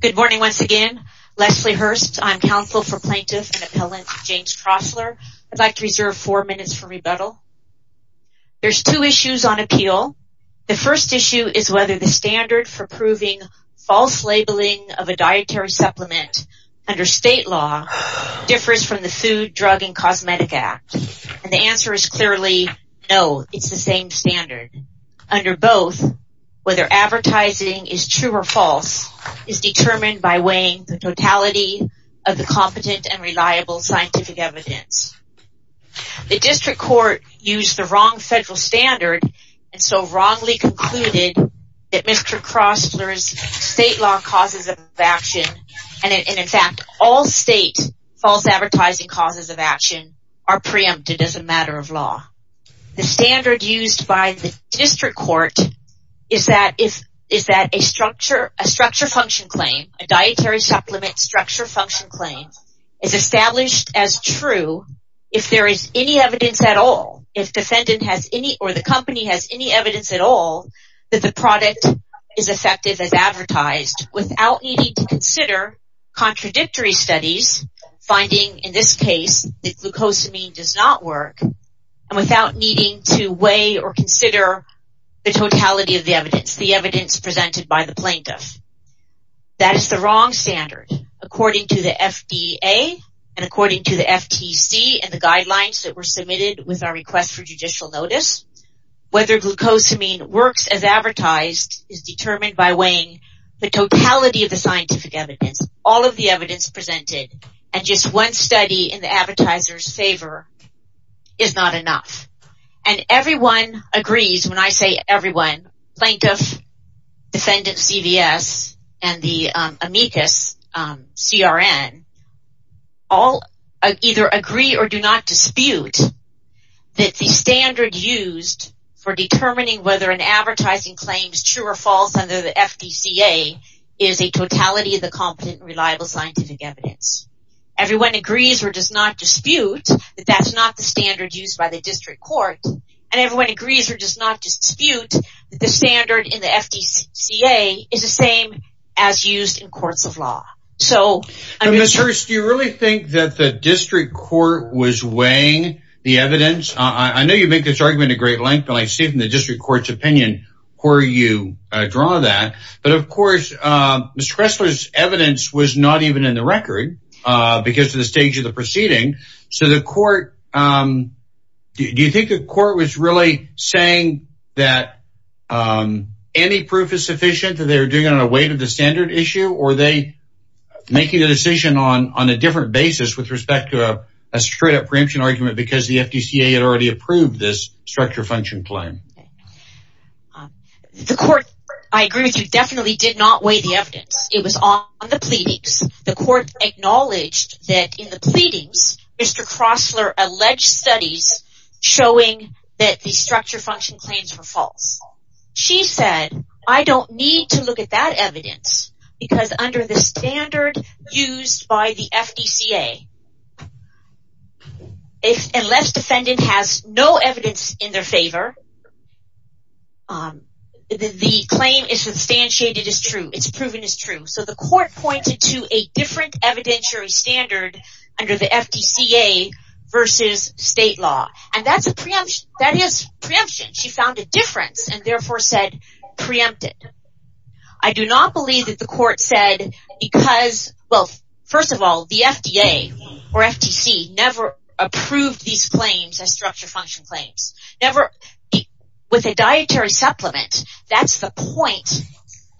Good morning once again. Leslie Hurst. I'm counsel for plaintiff and appellant James Kroessler. I'd like to reserve four minutes for rebuttal. There's two issues on appeal. The first issue is whether the standard for proving false labeling of a dietary supplement under state law differs from the Food, Drug, and Cosmetic Act. And the answer is clearly no, it's the same standard. Under both, whether advertising is true or false is determined by weighing the totality of the competent and reliable scientific evidence. The district court used the wrong federal standard and so wrongly concluded that Mr. Kroessler's state law causes of action and in fact all state false advertising causes of action are preempted as a matter of law. The standard used by the district court is that a structure function claim, a dietary supplement structure function claim is established as true if there is any evidence at all, if the defendant has any or the company has any evidence at all that the product is effective as advertised without needing to consider contradictory studies finding in this case that glucosamine does not work and without needing to weigh or consider the totality of the evidence, the evidence presented by the plaintiff. That is the wrong standard. According to the FDA and according to the FTC and the guidelines that were submitted with our request for judicial notice, whether glucosamine works as advertised is determined by weighing the totality of the scientific evidence, all of the is not enough and everyone agrees when I say everyone, plaintiff, defendant CVS and the amicus CRN all either agree or do not dispute that the standard used for determining whether an advertising claim is true or false under the FDCA is a totality of the competent reliable scientific evidence. Everyone agrees or does not dispute that that is not the standard used by the district court and everyone agrees or does not dispute that the standard in the FDCA is the same as used in courts of law. So, Mr. Hirst, do you really think that the district court was weighing the evidence? I know you make this argument a great length and I see it in the district court's opinion where you draw that, but of course, Ms. Kressler's evidence was not even in the record because of the stage of the proceeding, so the court, do you think the court was really saying that any proof is sufficient that they were doing it on a weight of the standard issue or are they making a decision on a different basis with respect to a straight up preemption argument because the FDCA had already approved this structure function claim? The court, I agree with you, definitely did not weigh the evidence. It was on the pleadings. The court acknowledged that in the pleadings, Mr. Kressler alleged studies showing that the structure function claims were false. She said, I don't need to look at that evidence because under the standard used by the FDCA, unless defendant has no evidence in their favor, the claim is substantiated as true. It's proven as true. So, the court pointed to a different evidentiary standard under the FDCA versus state law and that is preemption. She found well, first of all, the FDA or FTC never approved these claims as structure function claims. With a dietary supplement, that's the point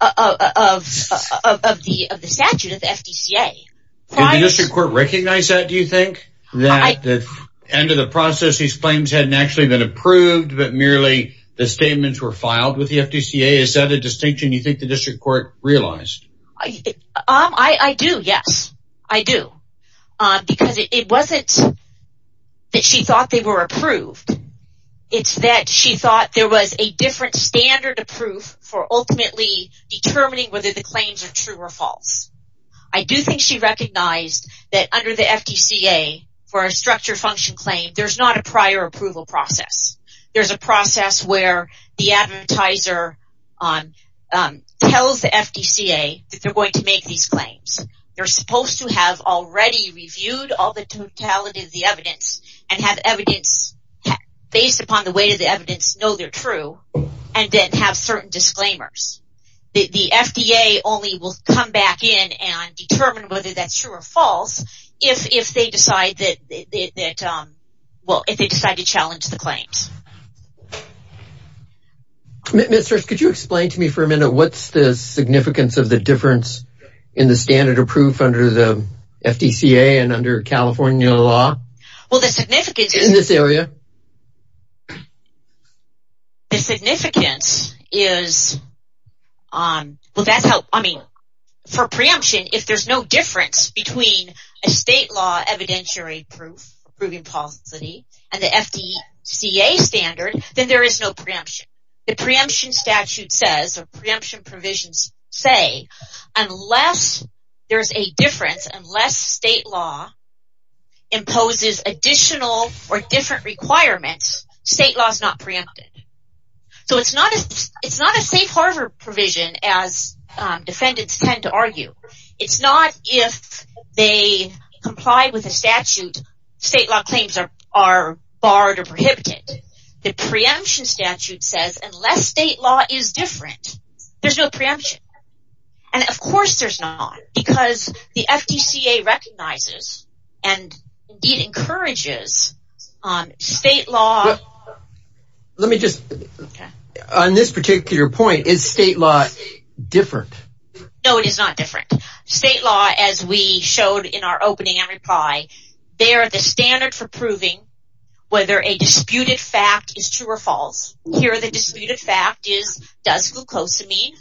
of the statute of the FDCA. Did the district court recognize that, do you think? That at the end of the process, these claims hadn't actually been approved but merely the statements were filed with the FDCA? Is that a distinction you think the district court realized? I do, yes. I do. Because it wasn't that she thought they were approved. It's that she thought there was a different standard approved for ultimately determining whether the claims are true or false. I do think she recognized that under the FDCA for a structure function claim, there's not a prior approval process. There's a process where the advertiser tells the FDCA that they're going to make these claims. They're supposed to have already reviewed all the totality of the evidence and have evidence based upon the weight of the evidence know they're true and then have certain disclaimers. The FDA only will come back in and determine whether that's true or false if they decide to challenge the claims. Ms. Church, could you explain to me for difference in the standard approved under the FDCA and under California law in this area? The significance is, for preemption, if there's no difference between a state law evidentiary proof and the FDCA standard, then there is no preemption. The preemption statute says, or preemption provisions say, unless there's a difference, unless state law imposes additional or different requirements, state law is not preempted. It's not a safe harbor provision as defendants tend to argue. It's not if they comply with a statute, state law claims are barred or prohibited. The preemption statute says unless state law is different, there's no preemption. Of course there's not, because the FDCA recognizes and encourages state law. On this particular point, is state law different? No, it is not different. State law, as we showed in our opening and reply, they are the standard for proving whether a disputed fact is true or false. Here, disputed fact is, does glucosamine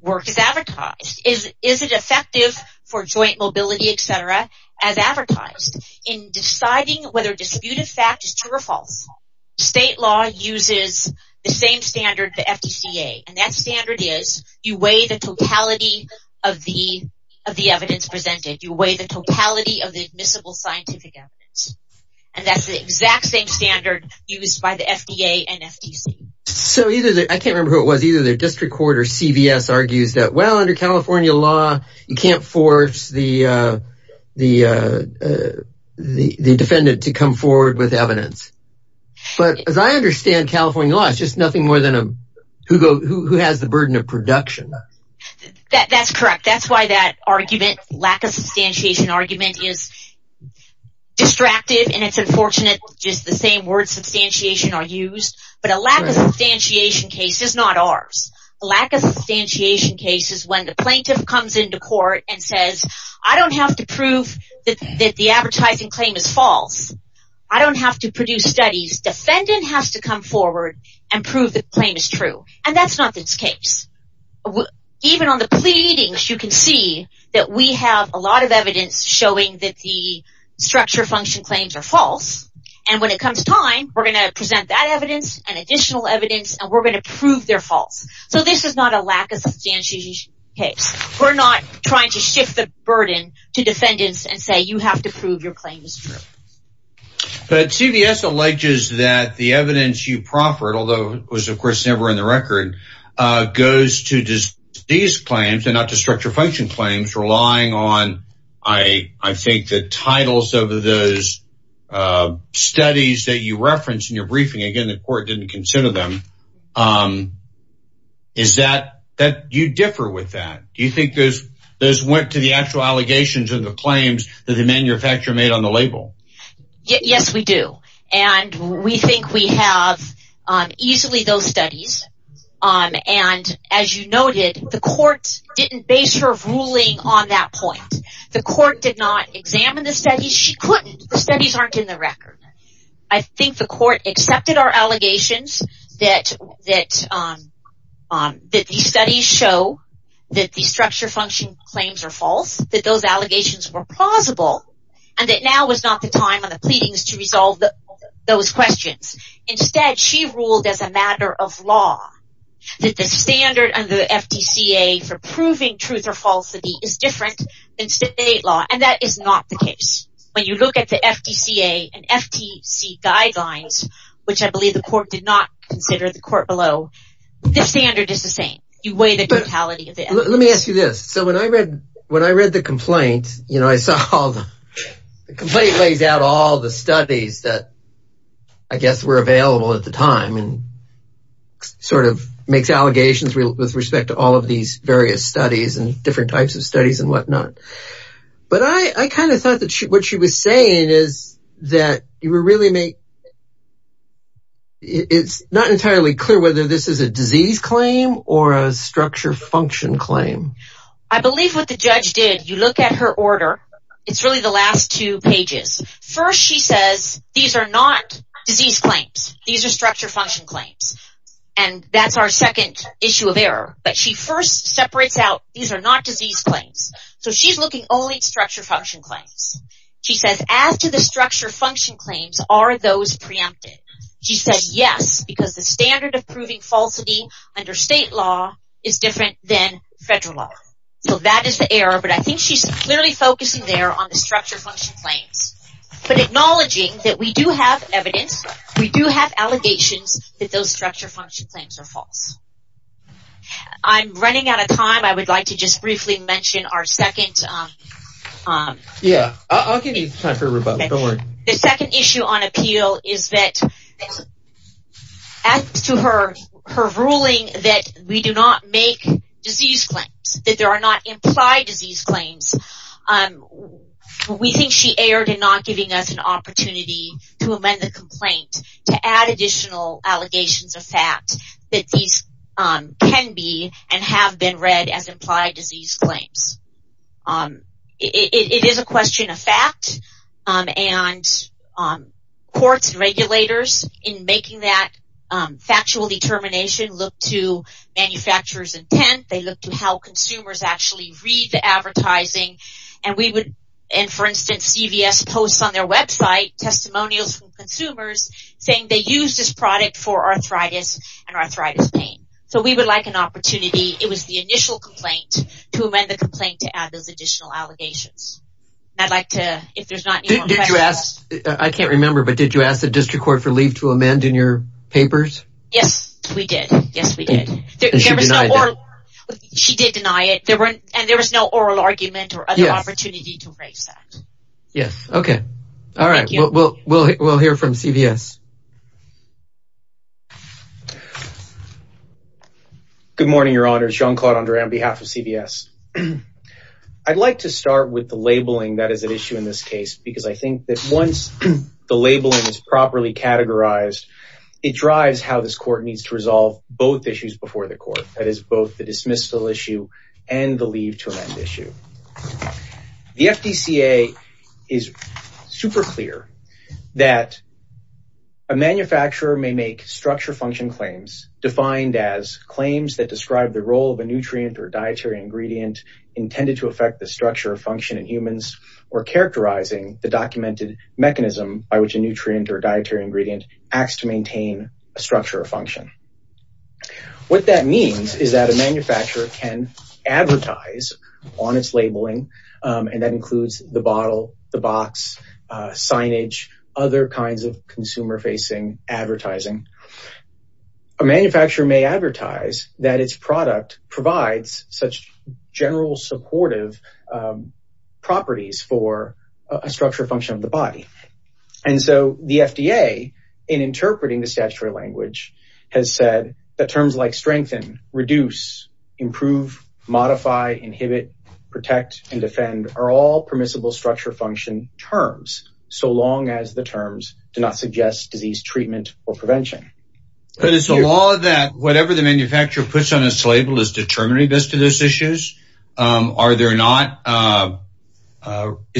work as advertised? Is it effective for joint mobility, etc., as advertised? In deciding whether disputed fact is true or false, state law uses the same standard, the FDCA, and that standard is, you weigh the totality of the evidence presented. You weigh the totality of the admissible scientific evidence. That's the exact same standard used by the FDA and FDCA. I can't remember who it was, either the district court or CVS argues that under California law, you can't force the defendant to come forward with evidence. As I understand California law, it's just nothing more than who has the burden of production. That's correct. That's why that argument, lack of substantiation argument, is distracted, and it's unfortunate just the same words, substantiation, are used, but a lack of substantiation case is not ours. A lack of substantiation case is when the plaintiff comes into court and says, I don't have to prove that the advertising claim is false. I don't have to produce studies. Defendant has to come forward and prove the claim is true, and that's not this case. Even on the pleadings, you can see that we have a lot of evidence showing that the structure function claims are false. When it comes time, we're going to present that evidence and additional evidence, and we're going to prove they're false. This is not a lack of substantiation case. We're not trying to shift the burden to defendants and say you have to prove your claim is true. CVS alleges that the evidence you proffered, although it was of course never in the record, goes to these claims and not to structure function claims, relying on, I think, the titles of those studies that you referenced in your briefing. Again, the court didn't consider them. Do you differ with that? Do you think those went to the actual allegations of the claims that the manufacturer made on the label? Yes, we do, and we think we have easily those studies. As you noted, the court didn't base her ruling on that point. The court did not examine the studies. She couldn't. The studies aren't in the record. I think the court accepted our allegations that these studies show that the structure function claims are false, that those allegations were plausible, and that now was not the time on the pleadings to resolve those questions. Instead, she ruled as a matter of law that the standard of the FTCA for proving truth or falsity is different than state law, and that is not the case. When you look at the FTCA and FTC guidelines, which I believe the court did not consider the court below, the standard is the same. You weigh the totality of the evidence. Let me ask you this. When I read the complaint, I saw the complaint lays out all the studies that I guess were available at the time and sort of makes allegations with respect to all of these various studies and different types of studies and whatnot, but I kind of thought that what she was saying is that it's not entirely clear whether this is a disease claim or a structure function claim. I believe what the court said, you look at her order. It's really the last two pages. First, she says these are not disease claims. These are structure function claims, and that's our second issue of error, but she first separates out these are not disease claims. So, she's looking only at structure function claims. She says, as to the structure function claims, are those preempted? She said, yes, because the standard of proving falsity under state law is different than federal law. So, that is the error, but I think she's clearly focusing there on the structure function claims, but acknowledging that we do have evidence. We do have allegations that those structure function claims are false. I'm running out of time. I would like to just briefly mention our second... Yeah, I'll give you time for a rebuttal. Don't worry. The second issue on appeal is that, as to her ruling that we do not make disease claims, that there are not implied disease claims, we think she erred in not giving us an opportunity to amend the complaint to add additional allegations of fact that these can be and have been read as implied disease claims. It is a question of fact, and courts and regulators, in making that factual determination, look to manufacturer's intent. They look to how consumers actually read the advertising. For instance, CVS posts on their website testimonials from consumers saying they used this product for arthritis and arthritis pain. So, we would like an opportunity. It was the complaint to add those additional allegations. I'd like to, if there's not... I can't remember, but did you ask the district court for leave to amend in your papers? Yes, we did. Yes, we did. She did deny it, and there was no oral argument or other opportunity to raise that. Yes. Okay. All right. We'll hear from CVS. Good morning, Your Honors. Jean-Claude Andre on behalf of CVS. I'd like to start with the labeling that is at issue in this case, because I think that once the labeling is properly categorized, it drives how this court needs to resolve both issues before the court. That is both the dismissal issue and the leave to amend issue. The FDCA is super clear that a manufacturer may make structure function claims defined as claims that describe the role of a nutrient or dietary ingredient intended to affect the structure or function in humans, or characterizing the documented mechanism by which a nutrient or dietary ingredient acts to maintain a structure or function. What that means is that a manufacturer can advertise on its labeling, and that includes the bottle, the box, signage, other kinds of consumer-facing advertising. A manufacturer may advertise that its product provides such general supportive properties for a structure or function of the body. The FDA, in interpreting the statutory language, has said that terms like strengthen, reduce, improve, modify, inhibit, protect, and defend are all permissible structure function terms, so long as the terms do not suggest disease treatment or prevention. But it's the law that whatever the manufacturer puts on its label is determining this to those issues. Is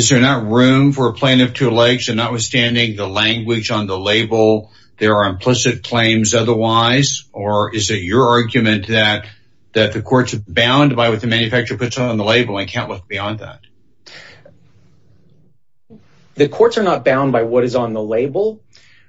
there not room for a plan of two legs and notwithstanding the language on the label, there are implicit claims otherwise, or is it your argument that the courts are bound by what the manufacturer puts on the label and can't look beyond that? The courts are not bound by what is on the label,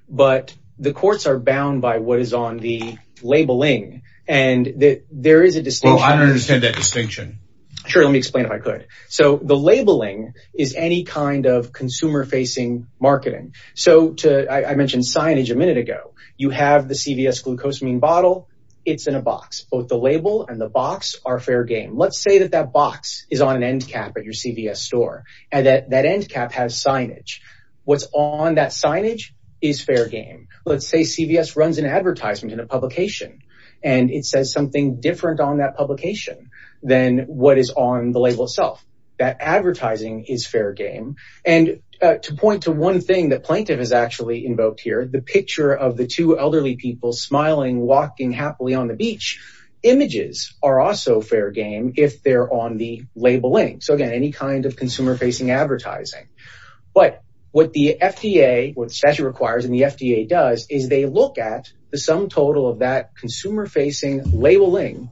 but the courts are bound by what is on the labeling. I don't understand that distinction. Sure, let me explain if I could. The labeling is any kind of consumer-facing marketing. I mentioned signage a minute ago. You have the CVS Glucosamine bottle. It's in a box. Both the label and the box are fair game. Let's say that that box is on an end cap at your CVS store, and that end cap has signage. What's on that signage is fair game. Let's say CVS runs an advertisement in a publication, and it says something different on that publication than what is on the label itself. That advertising is fair game. To point to one thing that Plaintiff has actually invoked here, the picture of the two elderly people smiling, walking happily on the beach, images are also fair game if they're on the labeling. Again, any kind of consumer-facing advertising. What the FDA, what the statute labeling,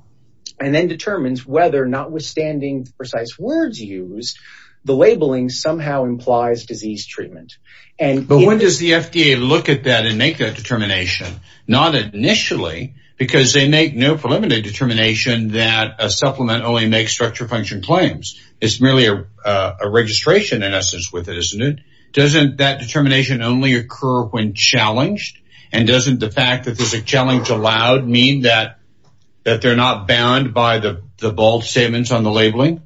and then determines whether notwithstanding the precise words used, the labeling somehow implies disease treatment. When does the FDA look at that and make that determination? Not initially, because they make no preliminary determination that a supplement only makes structure function claims. It's merely a registration in essence with it, isn't it? Doesn't that determination only occur when challenged? Doesn't the fact that there's challenge allowed mean that they're not bound by the bold statements on the labeling?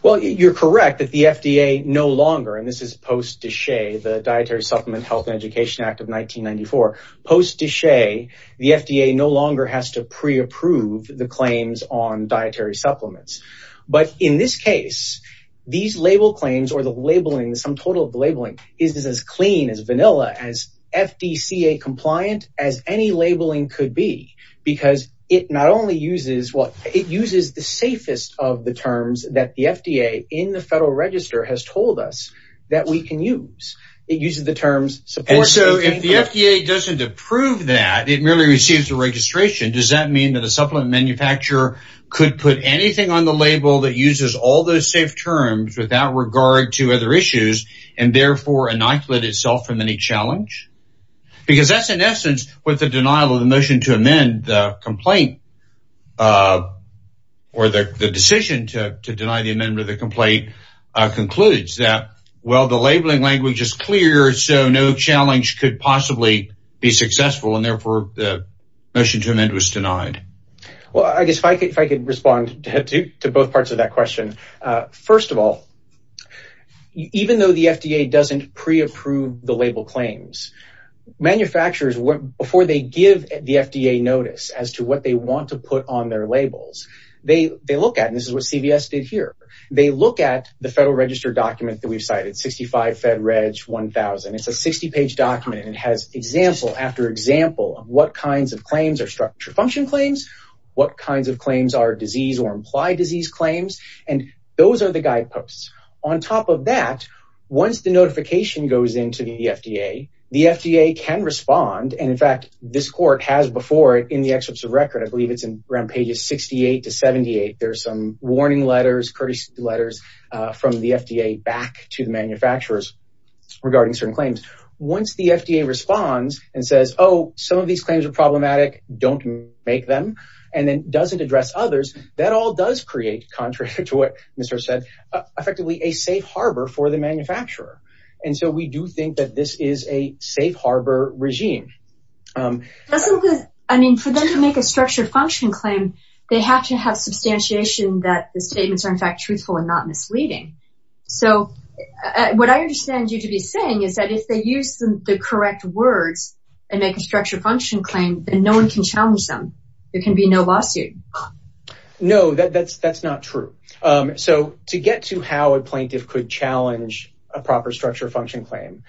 Well, you're correct that the FDA no longer, and this is post-Dichet, the Dietary Supplement Health and Education Act of 1994. Post-Dichet, the FDA no longer has to pre-approve the claims on dietary supplements. But in this case, these label claims or the labeling, some total labeling, is as clean as vanilla, as FDCA-compliant as any labeling could be. Because it not only uses, well, it uses the safest of the terms that the FDA in the Federal Register has told us that we can use. It uses the terms support, safe, and clean. And so, if the FDA doesn't approve that, it merely receives a registration, does that mean that a supplement manufacturer could put anything on the label that uses all those safe terms without regard to other issues, and therefore, inoculate itself from any challenge? Because that's, in essence, what the denial of the motion to amend the complaint, or the decision to deny the amendment of the complaint, concludes that, well, the labeling language is clear, so no challenge could possibly be successful, and therefore, the motion to amend was denied. Well, I guess if I could respond to both parts of that question. First of all, even though the FDA doesn't pre-approve the label claims, manufacturers, before they give the FDA notice as to what they want to put on their labels, they look at, and this is what CVS did here, they look at the Federal Register document that we've cited, 65 Fed Reg 1000. It's a 60-page document, and it has example after example of what kinds of claims are structure function claims, what kinds of claims are disease or and those are the guideposts. On top of that, once the notification goes into the FDA, the FDA can respond, and in fact, this court has before it in the excerpts of record, I believe it's around pages 68 to 78, there's some warning letters, courtesy letters from the FDA back to the manufacturers regarding certain claims. Once the FDA responds and says, oh, some of these claims are problematic, don't make them, and then doesn't address others, that all does create, contrary to what Mr. said, effectively a safe harbor for the manufacturer. And so we do think that this is a safe harbor regime. I mean, for them to make a structure function claim, they have to have substantiation that the statements are in fact truthful and not misleading. So what I understand you to be saying is that if they use the correct words and make a structure function claim, then no one can challenge them. There can be no lawsuit. No, that's not true. So to get to how a plaintiff could challenge a proper structure function claim,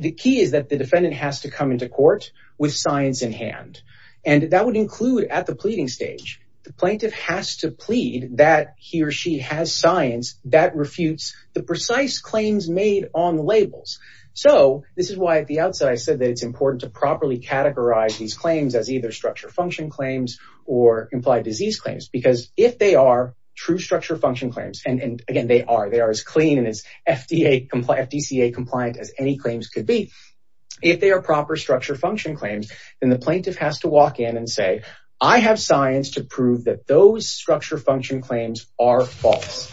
the key is that the defendant has to come into court with science in hand. And that would include at the pleading stage, the plaintiff has to plead that he or she has science that refutes the precise claims made on labels. So this is why at the outset I said that it's important to properly categorize these claims as either structure function claims or implied disease claims, because if they are true structure function claims, and again, they are, they are as clean and as FDA compliant, FDCA compliant as any claims could be. If they are proper structure function claims, then the plaintiff has to walk in and say, I have science to prove that those structure function claims are false.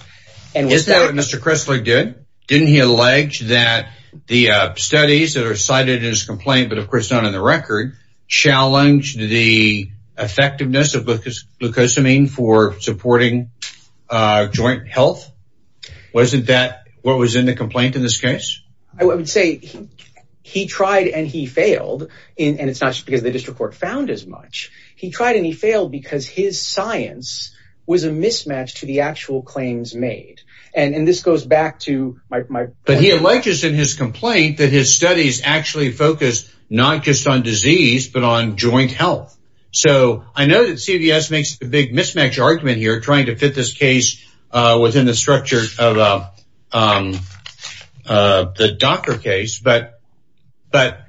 And was that what Mr. Chrisler did? Didn't he allege that the studies that are cited in his complaint, but of course not in the record, challenged the effectiveness of glucosamine for supporting joint health? Wasn't that what was in the complaint in this case? I would say he tried and he failed, and it's not just because the district court found as much. He tried and he failed because his science was a mismatch to the actual claims made. And this goes back to my point. But he alleges in his complaint that his studies actually focus not just on disease, but on joint health. So I know that CVS makes a big mismatch argument here, trying to fit this case within the structure of the doctor case, but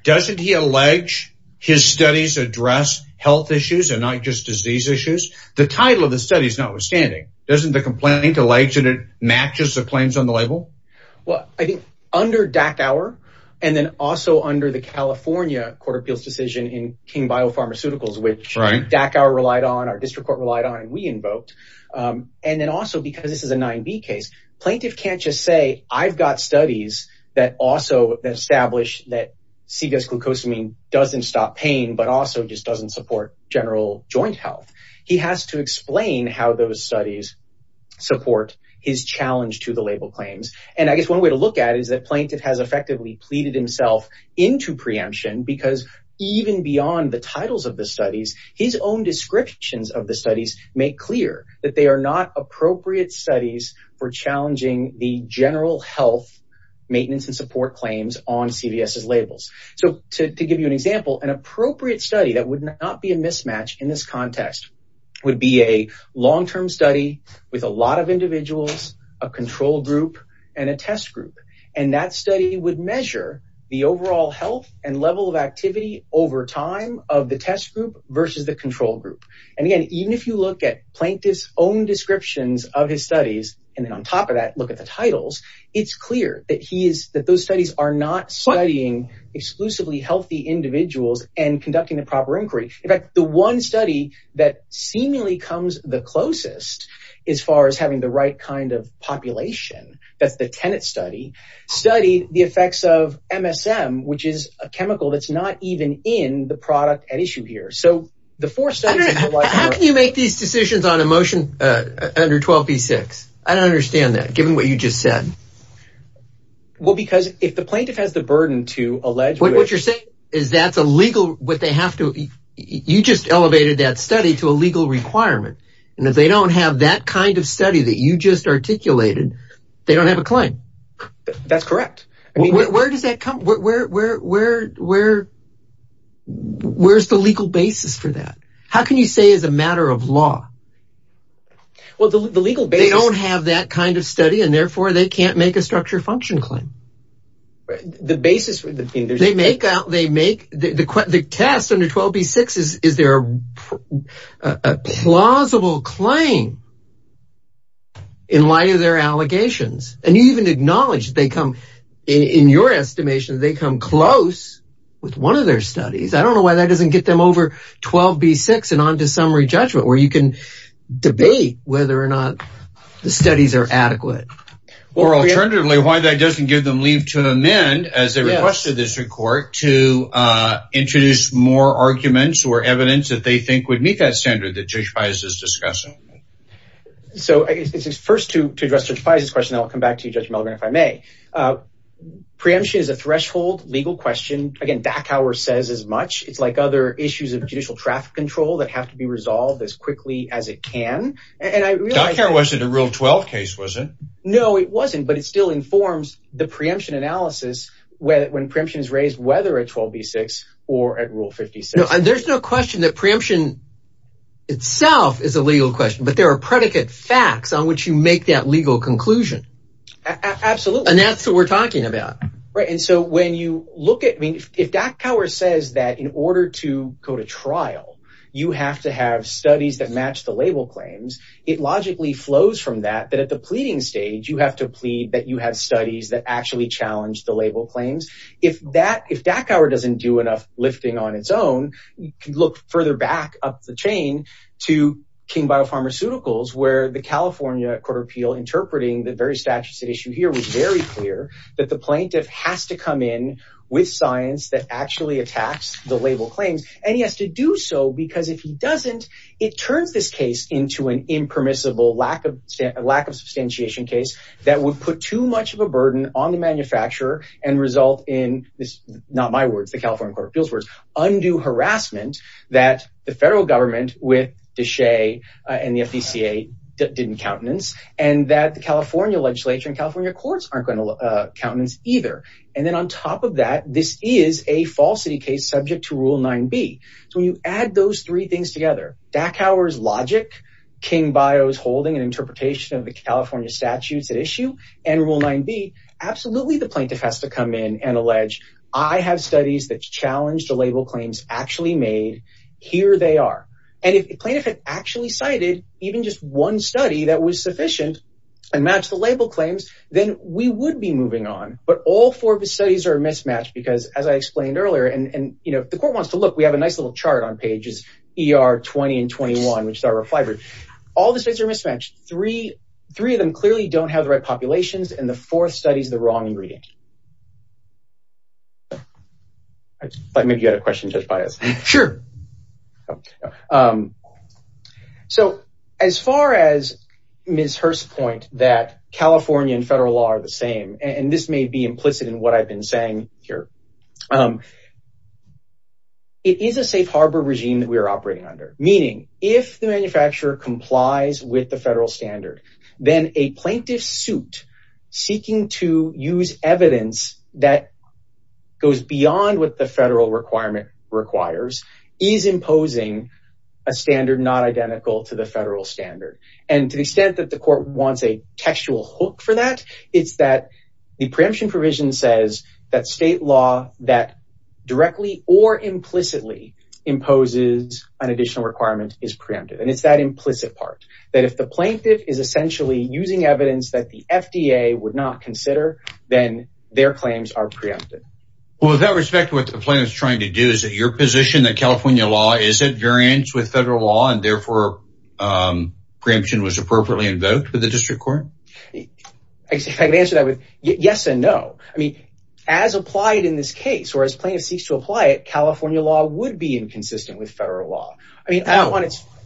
doesn't he allege his studies address health issues and not just disease issues? The title of the study is notwithstanding. Doesn't the complaint allege that it matches the claims on the label? Well, I think under Dackauer and then also under the California Court of Appeals decision in King Biopharmaceuticals, which Dackauer relied on, our district court relied on and we invoked. And then also because this is a 9B case, plaintiff can't just say I've got studies that also establish that CVS glucosamine doesn't stop pain, but also just doesn't support general joint health. He has to explain how those studies support his challenge to the label claims. And I guess one way to look at it is that plaintiff has effectively pleaded himself into preemption because even beyond the titles of the studies, his own descriptions of the studies make clear that they are not appropriate studies for challenging the general health maintenance and support claims on CVS's labels. So to give you an example, an appropriate study that would not be a mismatch in this context would be a long-term study with a lot of individuals, a control group, and a test group. And that study would measure the overall health and level of plaintiff's own descriptions of his studies. And then on top of that, look at the titles. It's clear that those studies are not studying exclusively healthy individuals and conducting the proper inquiry. In fact, the one study that seemingly comes the closest as far as having the right kind of population, that's the Tenet study, studied the effects of MSM, which is a chemical that's not even in the product at issue here. How can you make these decisions on a motion under 12b-6? I don't understand that given what you just said. Well, because if the plaintiff has the burden to allege what you're saying is that's a legal, what they have to, you just elevated that study to a legal requirement. And if they don't have that kind of study that you just articulated, they don't have a claim. That's correct. Where does that come from? Where's the legal basis for that? How can you say as a matter of law? Well, the legal basis... They don't have that kind of study, and therefore they can't make a structure function claim. The basis for the thing... They make out, they make the test under 12b-6, is there a plausible claim in light of their allegations? And you even acknowledge they come, in your estimation, they come close with one of their studies. I don't know why that doesn't get them over 12b-6 and on to summary judgment, where you can debate whether or not the studies are adequate. Or alternatively, why that doesn't give them leave to amend, as they requested this report, to introduce more arguments or evidence that they think would meet that standard that Judge Feist is discussing. So, first to address Judge Feist's question, I'll come back to you, Judge Mellgren, if I may. Preemption is a threshold legal question. Again, Dachauer says as much. It's like other issues of judicial traffic control that have to be resolved as quickly as it can. And I realize... Dachauer wasn't a Rule 12 case, was it? No, it wasn't. But it still informs the preemption analysis when preemption is raised, whether at 12b-6 or at Rule 56. There's no question that preemption itself is a legal question, but there are predicate facts on which you make that legal conclusion. Absolutely. And that's what we're talking about. Right. And so when you look at... I mean, if Dachauer says that in order to go to trial, you have to have studies that match the label claims, it logically flows from that, that at the pleading stage, you have to plead that you have studies that actually challenge the label claims. If Dachauer doesn't do enough lifting on its own, you can look further back up the chain to King Biopharmaceuticals, where the California Court of Appeal interpreting the very statutes at issue here was very clear that the plaintiff has to come in with science that actually attacks the label claims. And he has to do so because if he doesn't, it turns this case into an impermissible lack of substantiation case that would put too much of a burden on the manufacturer and result in this, not my words, the California Court of Appeal's words, undue harassment that the federal government with DeShay and the FDCA didn't countenance, and that the California legislature and California courts aren't going to countenance either. And then on top of that, this is a falsity case subject to Rule 9b. So when you add those three things together, Dachauer's logic, King Bio is holding an plaintiff has to come in and allege, I have studies that challenge the label claims actually made, here they are. And if plaintiff had actually cited even just one study that was sufficient and match the label claims, then we would be moving on. But all four of his studies are mismatched because as I explained earlier, and the court wants to look, we have a nice little chart on pages ER 20 and 21, which is our reflibrate. All the states are mismatched. Three of them clearly don't have the right populations. And the fourth study is the wrong ingredient. Maybe you had a question judged by us. Sure. So as far as Ms. Hurst's point that California and federal law are the same, and this may be implicit in what I've been saying here, it is a safe harbor regime that we are operating under. Meaning if the manufacturer complies with the federal standard, then a plaintiff suit seeking to use evidence that goes beyond what the federal requirement requires is imposing a standard not identical to the federal standard. And to the extent that the court wants a textual hook for that, it's that the preemption provision says that state law that directly or implicitly an additional requirement is preempted. And it's that implicit part that if the plaintiff is essentially using evidence that the FDA would not consider, then their claims are preempted. Well, with that respect, what the plaintiff is trying to do is that your position that California law is at variance with federal law and therefore preemption was appropriately invoked with the district court? I can answer that with yes and no. I mean, as applied in this case, whereas plaintiff seeks to apply it, California law would be inconsistent with federal law. I mean,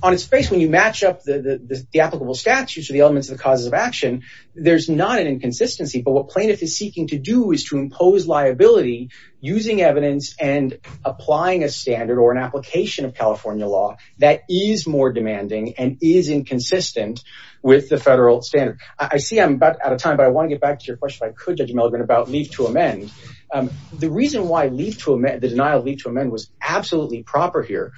on its face, when you match up the applicable statutes or the elements of the causes of action, there's not an inconsistency. But what plaintiff is seeking to do is to impose liability using evidence and applying a standard or an application of California law that is more demanding and is inconsistent with the federal standard. I see I'm about out of time, but I want to get back to your question if I could, Judge Mulligan, about leave to amend. The reason why the denial of leave to amend was absolutely proper here,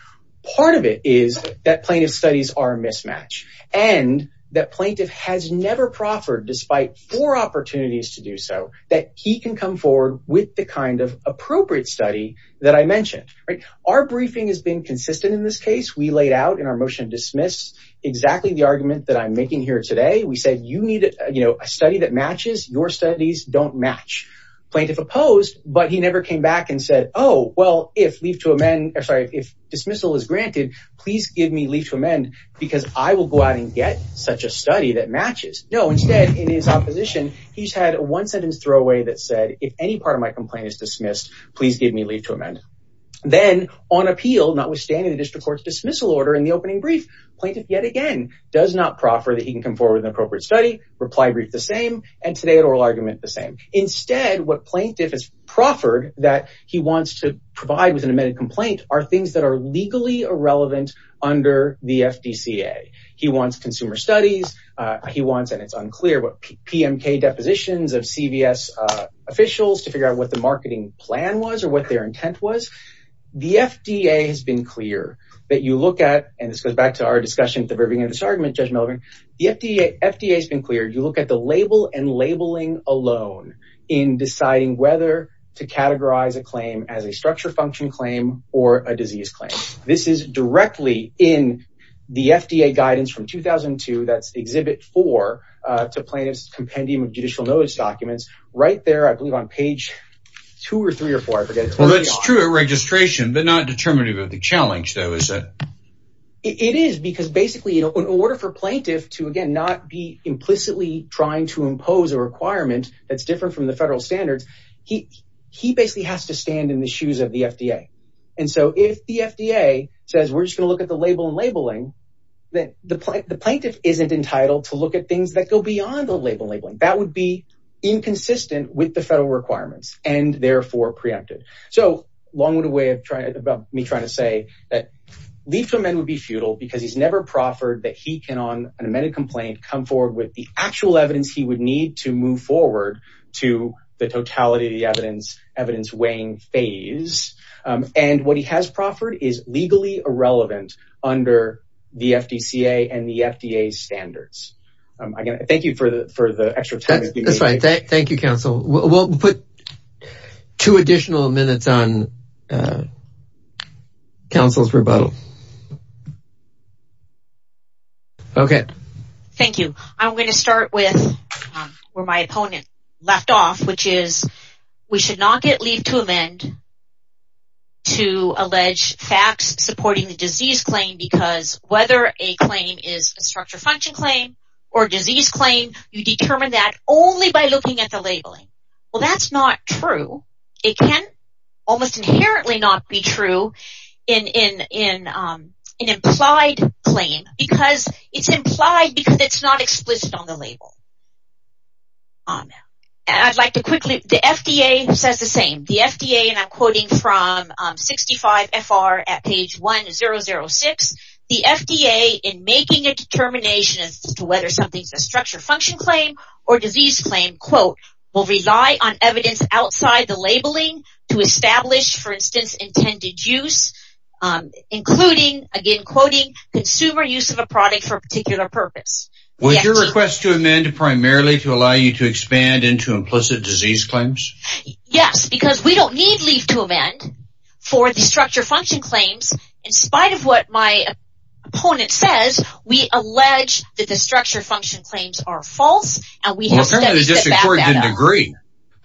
part of it is that plaintiff studies are a mismatch and that plaintiff has never proffered despite four opportunities to do so that he can come forward with the kind of appropriate study that I mentioned. Our briefing has been consistent in this case. We laid out in our motion dismiss exactly the argument that I'm making here today. We said you need a study that matches. Your studies don't match. Plaintiff opposed, but he never came back and said, oh, well, if dismissal is granted, please give me leave to amend because I will go out and get such a study that matches. No, instead, in his opposition, he's had one sentence throwaway that said, if any part of my complaint is dismissed, please give me leave to amend. Then on appeal, notwithstanding the district court's dismissal order in the opening brief, plaintiff yet again does not proffer that he can come forward with an appropriate study, reply brief the same, and today at oral argument the same. Instead, what plaintiff has proffered that he wants to provide with an amended complaint are things that are legally irrelevant under the FDCA. He wants consumer studies. He wants, and it's unclear, but PMK depositions of CVS officials to figure out what the marketing plan was or what their intent was. The FDA has been clear that you look at, and this goes back to our discussion at the beginning of this argument, the FDA has been clear. You look at the label and labeling alone in deciding whether to categorize a claim as a structure function claim or a disease claim. This is directly in the FDA guidance from 2002, that's exhibit four, to plaintiff's compendium of judicial notice documents right there, I believe on page two or three or four. Well, that's true at registration, but not determinative of the challenge though, is it? It is, because basically in order for plaintiff to, again, not be implicitly trying to impose a requirement that's different from the federal standards, he basically has to stand in the shoes of the FDA, and so if the FDA says we're just going to look at the label and labeling, then the plaintiff isn't entitled to look at things that go beyond the label and labeling. That would be inconsistent with the federal requirements and therefore preempted. So long with a way of trying, about me trying to say that Lieffelman would be futile because he's never proffered that he can on an amended complaint come forward with the actual evidence he would need to move forward to the totality of the evidence weighing phase, and what he has proffered is legally irrelevant under the FDCA and the FDA standards. Thank you for the extra time. That's right. Thank you, counsel. We'll put two additional minutes on counsel's rebuttal. Okay. Thank you. I'm going to start with where my opponent left off, which is we should not get leave to amend to allege facts supporting the disease claim because whether a claim is a function claim or disease claim, you determine that only by looking at the labeling. Well, that's not true. It can almost inherently not be true in an implied claim because it's implied because it's not explicit on the label. I'd like to quickly, the FDA says the same. The FDA, and I'm quoting from 65FR at page 1006, the FDA in making a determination as to whether something is a structure function claim or disease claim, quote, will rely on evidence outside the labeling to establish, for instance, intended use, including, again, quoting consumer use of a product for a particular purpose. Would your request to amend primarily to allow you to leave to amend for the structure function claims, in spite of what my opponent says, we allege that the structure function claims are false? Apparently the district court didn't agree.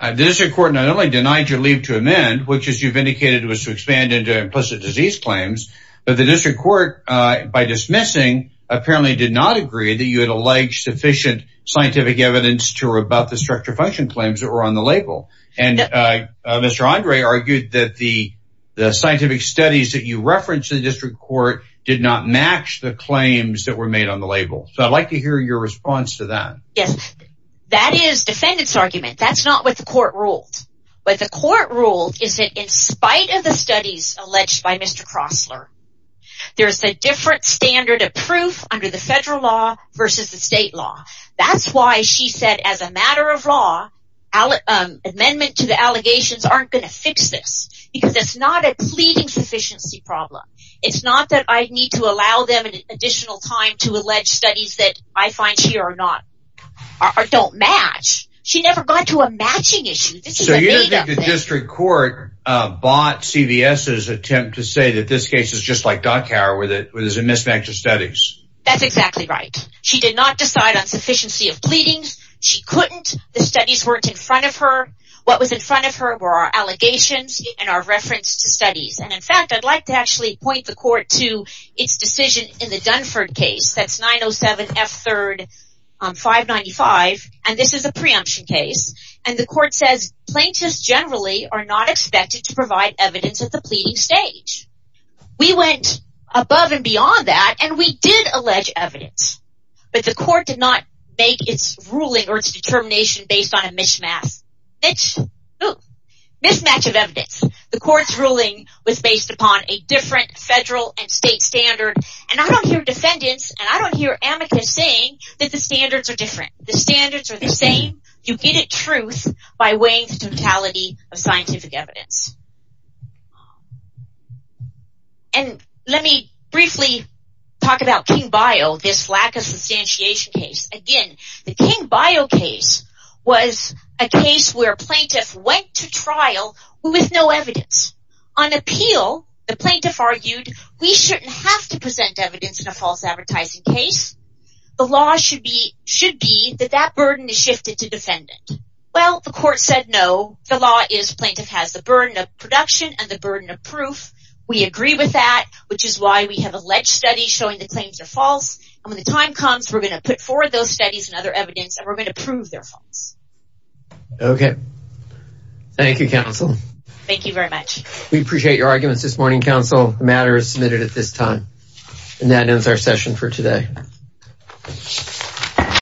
The district court not only denied your leave to amend, which as you've indicated was to expand into implicit disease claims, but the district court, by dismissing, apparently did not agree that you had alleged sufficient scientific evidence to rebut the structure function claims that were on the label. And Mr. Andre argued that the scientific studies that you referenced in the district court did not match the claims that were made on the label. So I'd like to hear your response to that. Yes, that is defendant's argument. That's not what the court ruled. What the court ruled is that in spite of the studies alleged by Mr. Crossler, there's a different standard of proof under the federal law versus the state law. That's why she said as a matter of law, amendment to the allegations aren't going to fix this, because it's not a pleading sufficiency problem. It's not that I need to allow them an additional time to allege studies that I find here don't match. She never got to a matching issue. So you think the district court bought CVS's attempt to say that this case is just like Dockhower, where there's a mismatch of studies? That's exactly right. She did not decide on sufficiency of pleadings, couldn't. The studies weren't in front of her. What was in front of her were our allegations and our reference to studies. And in fact, I'd like to actually point the court to its decision in the Dunford case. That's 907 F3, 595. And this is a preemption case. And the court says plaintiffs generally are not expected to provide evidence at the pleading stage. We went above and beyond that, and we did allege evidence. But the court did not make its ruling or its determination based on a mismatch of evidence. The court's ruling was based upon a different federal and state standard. And I don't hear defendants, and I don't hear amicus saying that the standards are different. The standards are the same. You get it truth by weighing the totality of scientific evidence. And let me briefly talk about King-Bio, this lack of substantiation case. Again, the King-Bio case was a case where a plaintiff went to trial with no evidence. On appeal, the plaintiff argued, we shouldn't have to present evidence in a false advertising case. The law should be that that burden is shifted to defendant. Well, the court said no. The law is, burden of production and the burden of proof. We agree with that, which is why we have alleged studies showing the claims are false. And when the time comes, we're going to put forward those studies and other evidence, and we're going to prove they're false. Okay. Thank you, counsel. Thank you very much. We appreciate your arguments this morning, counsel. The matter is submitted at this time. And that ends our session for today.